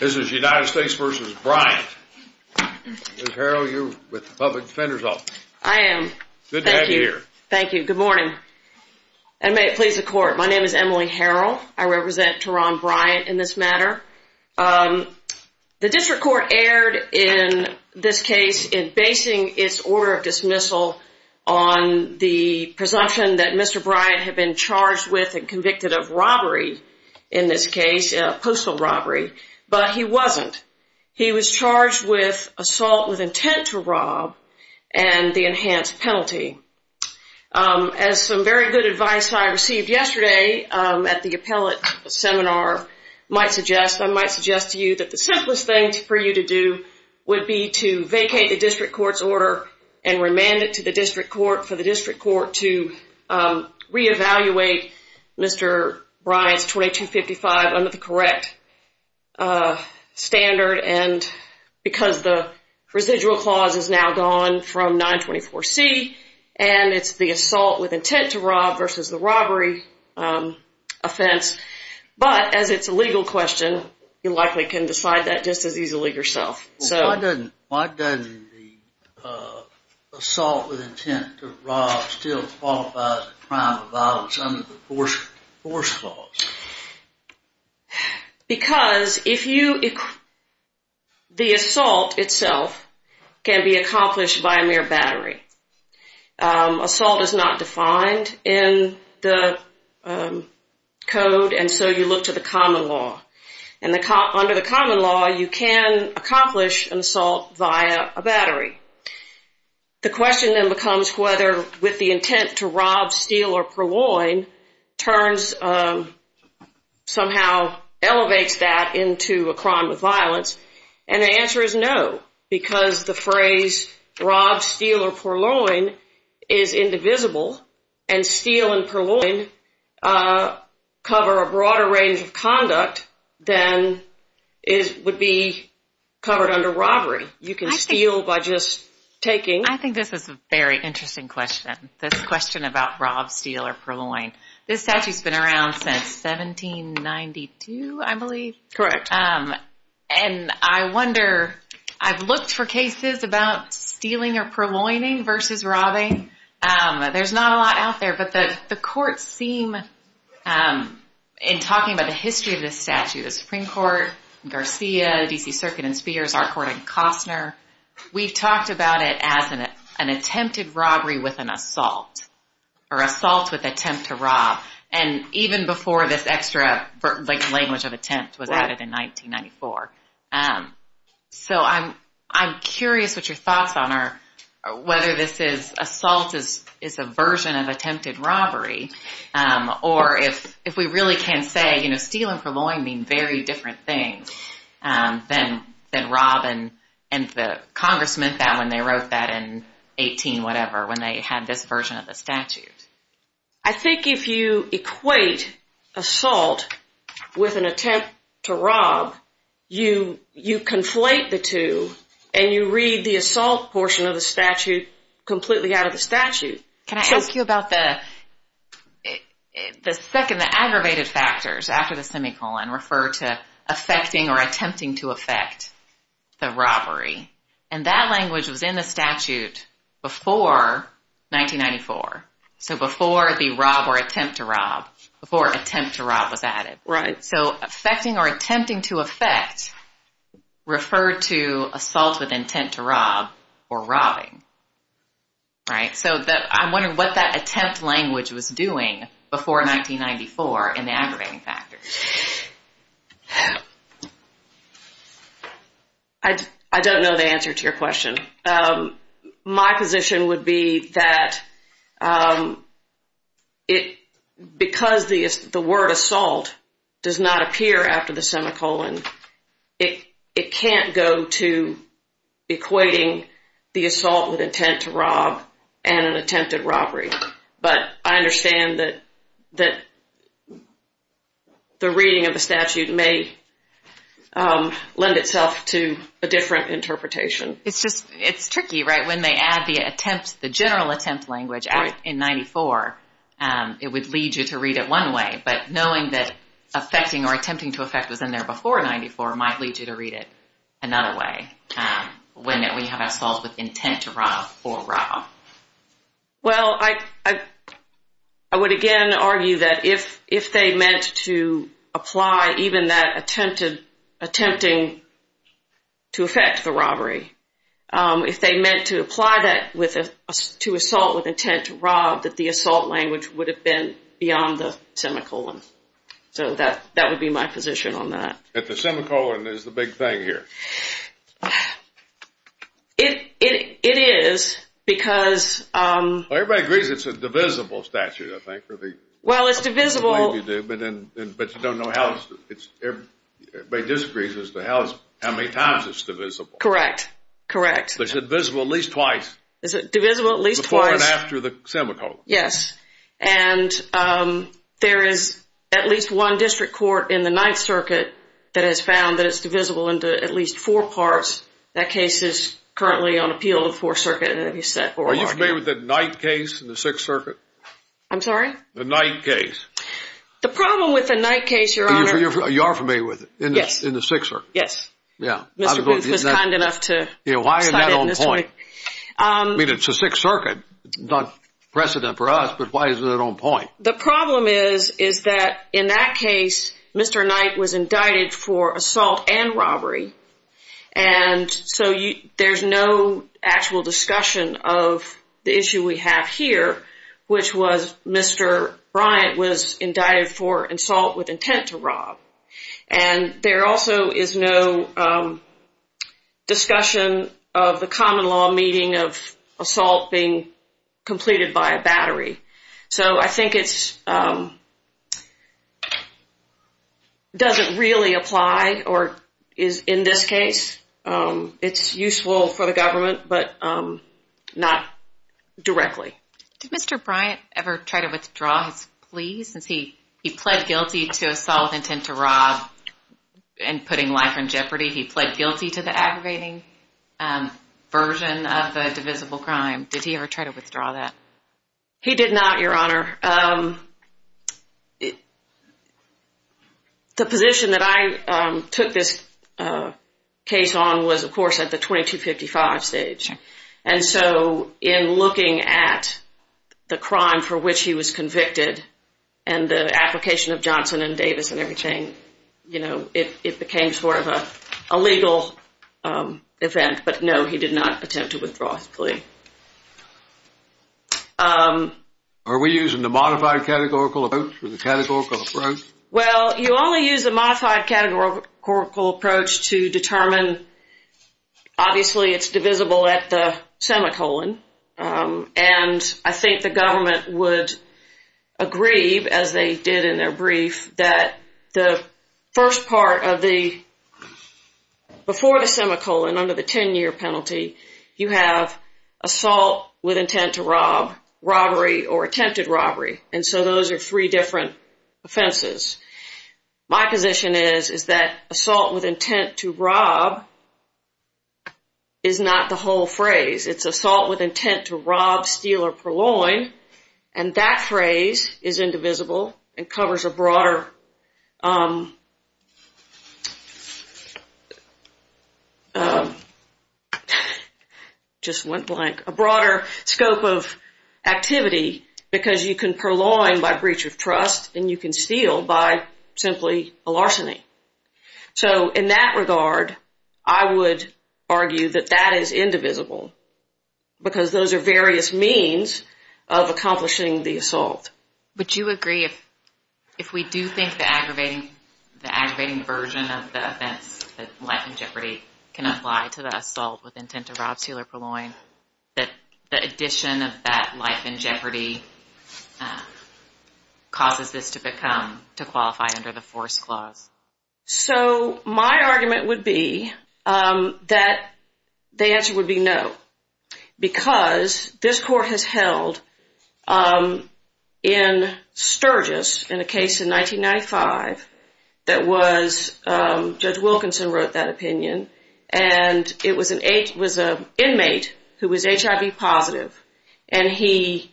This is United States v. Bryant. Ms. Harrell, you're with the Public Defender's Office. I am. Good to have you here. Thank you. Good morning. And may it please the Court, my name is Emily Harrell. I represent Terron Bryant in this matter. The District Court erred in this case in basing its order of dismissal on the presumption that Mr. Bryant had been charged with and convicted of robbery in this case, postal robbery, but he wasn't. He was charged with assault with intent to rob and the enhanced penalty. As some very good advice I received yesterday at the appellate seminar might suggest, I might suggest to you that the simplest thing for you to do would be to vacate the District Court's order and remand it to the District Court to re-evaluate Mr. Bryant's 2255 under the correct standard because the residual clause is now gone from 924C and it's the assault with intent to rob versus the robbery offense. But as it's a legal question, you likely can decide that just as easily yourself. Why doesn't the assault with intent to rob still qualify as a crime of violence under the force clause? Because the assault itself can be accomplished by a mere battery. Assault is not defined in the code and so you look to the common law. Under the common law, you can accomplish an assault via a battery. The question then becomes whether with the intent to rob, steal, or purloin somehow elevates that into a crime of violence and the answer is no because the phrase rob, steal, or purloin is indivisible and steal and purloin cover a broader range of conduct than would be covered under robbery. You can steal by just taking. I think this is a very interesting question, this question about rob, steal, or purloin. This statute's been around since 1792, I believe. Correct. And I wonder, I've looked for cases about stealing or purloining versus robbing. There's not a lot out there, but the courts seem, in talking about the history of this statute, the Supreme Court, Garcia, D.C. Circuit and Spheres, our court in Costner, we've talked about it as an attempted robbery with an assault or assault with attempt to rob and even before this extra language of attempt was added in 1994. So I'm curious what your thoughts on whether assault is a version of attempted robbery or if we really can say steal and purloin mean very different things than rob and the Congress meant that when they wrote that in 18-whatever, I think if you equate assault with an attempt to rob, you conflate the two and you read the assault portion of the statute completely out of the statute. Can I ask you about the second, the aggravated factors after the semicolon and that language was in the statute before 1994, so before the rob or attempt to rob, before attempt to rob was added. Right. So affecting or attempting to affect referred to assault with intent to rob or robbing, right? So I'm wondering what that attempt language was doing before 1994 in the aggravating factors. I don't know the answer to your question. My position would be that because the word assault does not appear after the semicolon, it can't go to equating the assault with intent to rob and an attempted robbery. But I understand that the reading of the statute may lend itself to a different interpretation. It's tricky, right? When they add the general attempt language in 1994, it would lead you to read it one way, but knowing that affecting or attempting to affect was in there before 1994 might lead you to read it another way when we have assault with intent to rob or rob. Well, I would again argue that if they meant to apply even that attempting to affect the robbery, if they meant to apply that to assault with intent to rob, that the assault language would have been beyond the semicolon. So that would be my position on that. That the semicolon is the big thing here. It is because – Everybody agrees it's a divisible statute, I think. Well, it's divisible. But you don't know how – everybody disagrees as to how many times it's divisible. Correct, correct. It's divisible at least twice. Is it divisible at least twice? Before and after the semicolon. Yes. And there is at least one district court in the Ninth Circuit that has found that it's divisible into at least four parts. That case is currently on appeal in the Fourth Circuit. Are you familiar with the Knight case in the Sixth Circuit? I'm sorry? The Knight case. The problem with the Knight case, Your Honor – You are familiar with it in the Sixth Circuit? Yes. Yeah. Mr. Booth was kind enough to cite it. Why is that on point? I mean, it's the Sixth Circuit. It's not precedent for us, but why is it on point? The problem is that in that case, Mr. Knight was indicted for assault and robbery. And so there's no actual discussion of the issue we have here, which was Mr. Bryant was indicted for assault with intent to rob. And there also is no discussion of the common law meeting of assault being completed by a battery. So I think it doesn't really apply in this case. It's useful for the government, but not directly. Did Mr. Bryant ever try to withdraw his plea, since he pled guilty to assault with intent to rob and putting life in jeopardy? He pled guilty to the aggravating version of the divisible crime. Did he ever try to withdraw that? He did not, Your Honor. The position that I took this case on was, of course, at the 2255 stage. And so in looking at the crime for which he was convicted and the application of Johnson and Davis and everything, it became sort of a legal event. But, no, he did not attempt to withdraw his plea. Are we using the modified categorical approach or the categorical approach? Well, you only use the modified categorical approach to determine. Obviously, it's divisible at the semicolon. And I think the government would agree, as they did in their brief, that the first part of the – before the semicolon, under the 10-year penalty, you have assault with intent to rob, robbery, or attempted robbery. And so those are three different offenses. My position is, is that assault with intent to rob is not the whole phrase. It's assault with intent to rob, steal, or purloin. And that phrase is indivisible and covers a broader – just went blank – a broader scope of activity because you can purloin by breach of trust and you can steal by simply larceny. So in that regard, I would argue that that is indivisible because those are various means of accomplishing the assault. Would you agree if we do think the aggravating version of the offense, that life in jeopardy, can apply to the assault with intent to rob, steal, or purloin, that the addition of that life in jeopardy causes this to become – So my argument would be that the answer would be no because this court has held in Sturgis in a case in 1995 that was – Judge Wilkinson wrote that opinion – and it was an inmate who was HIV positive and he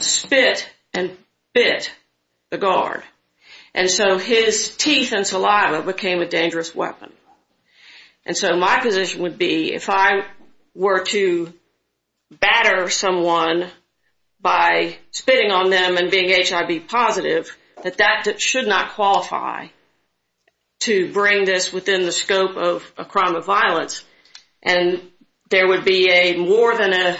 spit and bit the guard. And so his teeth and saliva became a dangerous weapon. And so my position would be if I were to batter someone by spitting on them and being HIV positive, that that should not qualify to bring this within the scope of a crime of violence. And there would be more than a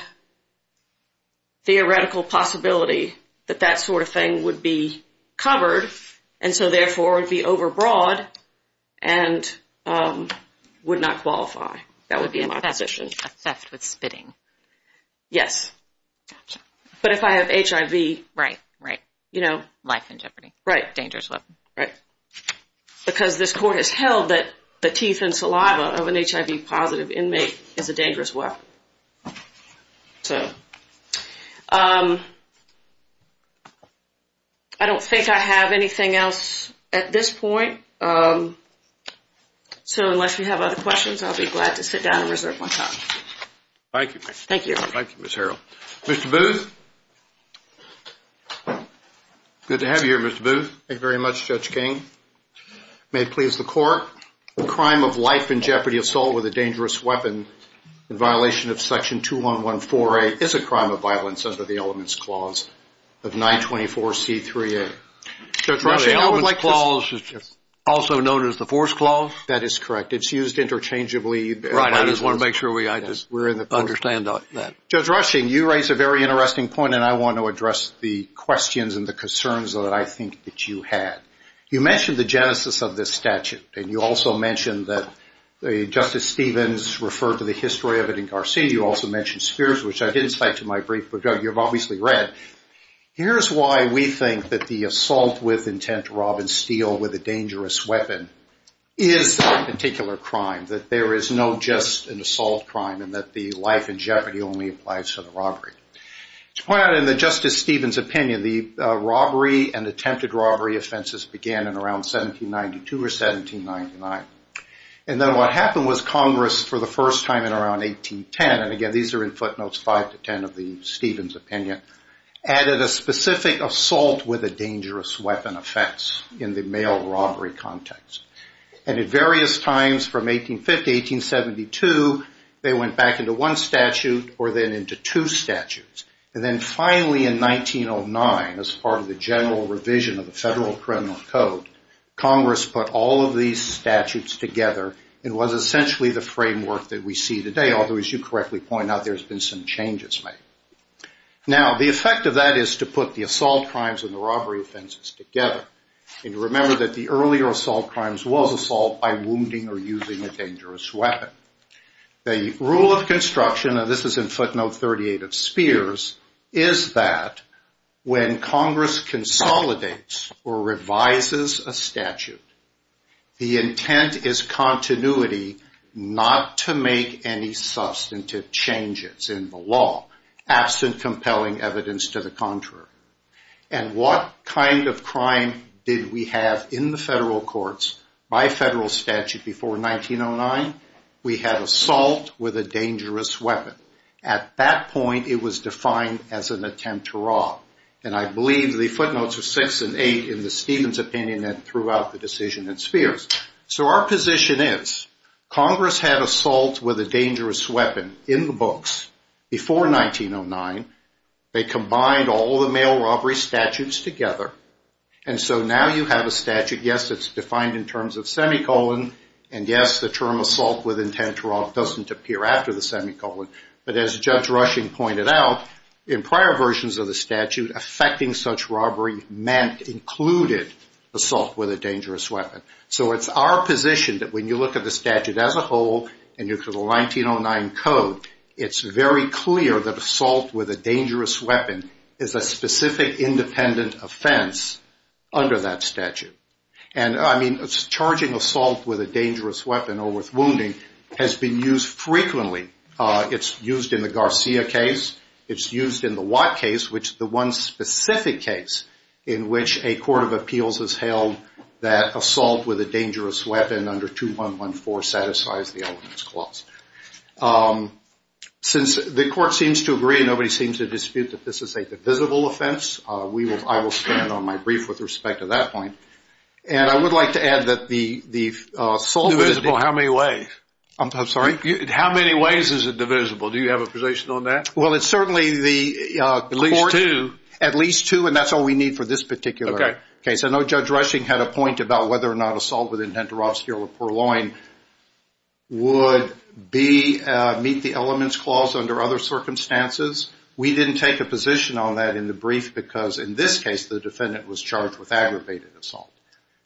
theoretical possibility that that sort of thing would be covered, and so therefore it would be overbroad and would not qualify. That would be my position. A theft with spitting. Yes. Gotcha. But if I have HIV – Right, right. You know – Life in jeopardy. Right. Dangerous weapon. Right. Because this court has held that the teeth and saliva of an HIV positive inmate is a dangerous weapon. So I don't think I have anything else at this point. So unless you have other questions, I'll be glad to sit down and reserve my time. Thank you. Thank you. Thank you, Ms. Harrell. Mr. Booth? Good to have you here, Mr. Booth. Thank you very much, Judge King. May it please the court, that the crime of life in jeopardy assault with a dangerous weapon in violation of Section 2114A is a crime of violence under the Elements Clause of 924C3A? No, the Elements Clause is also known as the Force Clause. That is correct. It's used interchangeably. Right. I just want to make sure we understand that. Judge Rushing, you raise a very interesting point, and I want to address the questions and the concerns that I think that you had. You mentioned the genesis of this statute, and you also mentioned that Justice Stevens referred to the history of it in Garcinio. You also mentioned Spears, which I didn't cite to my brief, but you've obviously read. Here's why we think that the assault with intent to rob and steal with a dangerous weapon is that particular crime, that there is no just an assault crime, and that the life in jeopardy only applies to the robbery. To point out in Justice Stevens' opinion, the robbery and attempted robbery offenses began in around 1792 or 1799. And then what happened was Congress, for the first time in around 1810, and again these are in footnotes 5 to 10 of the Stevens' opinion, added a specific assault with a dangerous weapon offense in the mail robbery context. And at various times from 1850 to 1872, they went back into one statute or then into two statutes. And then finally in 1909, as part of the general revision of the Federal Criminal Code, Congress put all of these statutes together. It was essentially the framework that we see today, although as you correctly point out, there's been some changes made. Now, the effect of that is to put the assault crimes and the robbery offenses together. And remember that the earlier assault crimes was assault by wounding or using a dangerous weapon. The rule of construction, and this is in footnote 38 of Spears, is that when Congress consolidates or revises a statute, the intent is continuity, not to make any substantive changes in the law, absent compelling evidence to the contrary. And what kind of crime did we have in the federal courts by federal statute before 1909? We had assault with a dangerous weapon. At that point, it was defined as an attempt to rob. And I believe the footnotes are 6 and 8 in the Stevens' opinion and throughout the decision in Spears. So our position is Congress had assault with a dangerous weapon in the books before 1909. They combined all the mail robbery statutes together. And so now you have a statute. Yes, it's defined in terms of semicolon. And yes, the term assault with intent to rob doesn't appear after the semicolon. But as Judge Rushing pointed out, in prior versions of the statute, affecting such robbery meant included assault with a dangerous weapon. So it's our position that when you look at the statute as a whole, and you look at the 1909 code, it's very clear that assault with a dangerous weapon is a specific independent offense under that statute. And, I mean, charging assault with a dangerous weapon or with wounding has been used frequently. It's used in the Garcia case. It's used in the Watt case, which is the one specific case in which a court of appeals has held that assault with a dangerous weapon under 2114 satisfies the Elements Clause. Since the court seems to agree, nobody seems to dispute that this is a divisible offense, I will stand on my brief with respect to that point. And I would like to add that the assault is divisible. How many ways? I'm sorry? How many ways is it divisible? Do you have a position on that? Well, it's certainly the court. At least two. At least two, and that's all we need for this particular case. I know Judge Rushing had a point about whether or not assault with intent to rob, steal, or poor-loin would meet the Elements Clause under other circumstances. We didn't take a position on that in the brief because, in this case, the defendant was charged with aggravated assault.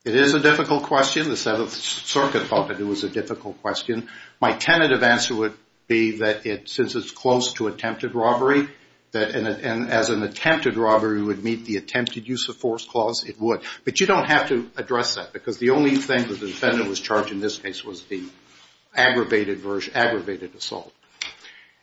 It is a difficult question. The Seventh Circuit thought that it was a difficult question. My tentative answer would be that since it's close to attempted robbery, and as an attempted robbery would meet the attempted use of force clause, it would. But you don't have to address that because the only thing that the defendant was charged in this case was the aggravated assault.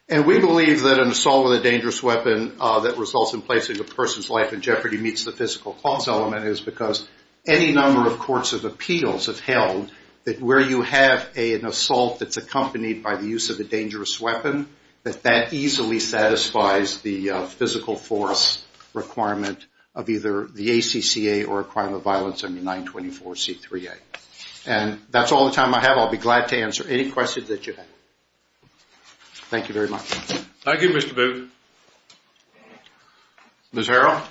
And we believe that an assault with a dangerous weapon that results in placing a person's life in jeopardy meets the physical clause element is because any number of courts of appeals have held that where you have an assault that's accompanied by the use of a dangerous weapon, that that easily satisfies the physical force requirement of either the ACCA or a crime of violence under 924C3A. And that's all the time I have. I'll be glad to answer any questions that you have. Thank you very much. Thank you, Mr. Booth. Ms. Harrell?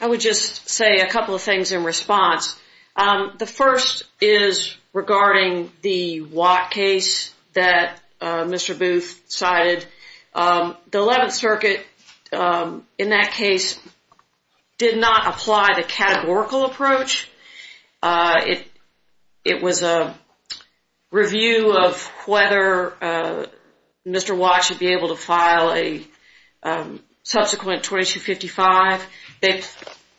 I would just say a couple of things in response. The first is regarding the Watt case that Mr. Booth cited. The Eleventh Circuit in that case did not apply the categorical approach. It was a review of whether Mr. Watt should be able to file a subsequent 2255.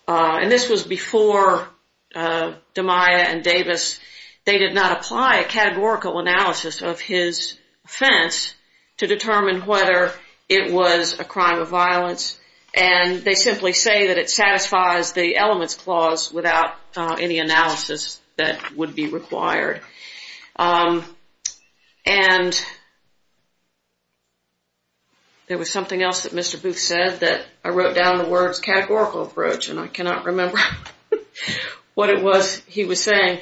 And this was before DiMaia and Davis. They did not apply a categorical analysis of his offense to determine whether it was a crime of violence. And they simply say that it satisfies the elements clause without any analysis that would be required. And there was something else that Mr. Booth said that I wrote down the words categorical approach, and I cannot remember what it was he was saying.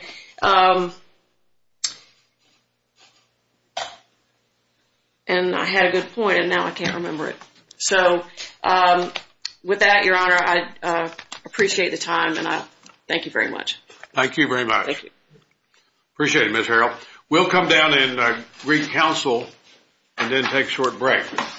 And I had a good point, and now I can't remember it. So with that, Your Honor, I appreciate the time, and I thank you very much. Thank you very much. Thank you. Appreciate it, Ms. Harrell. We'll come down and re-counsel and then take a short break.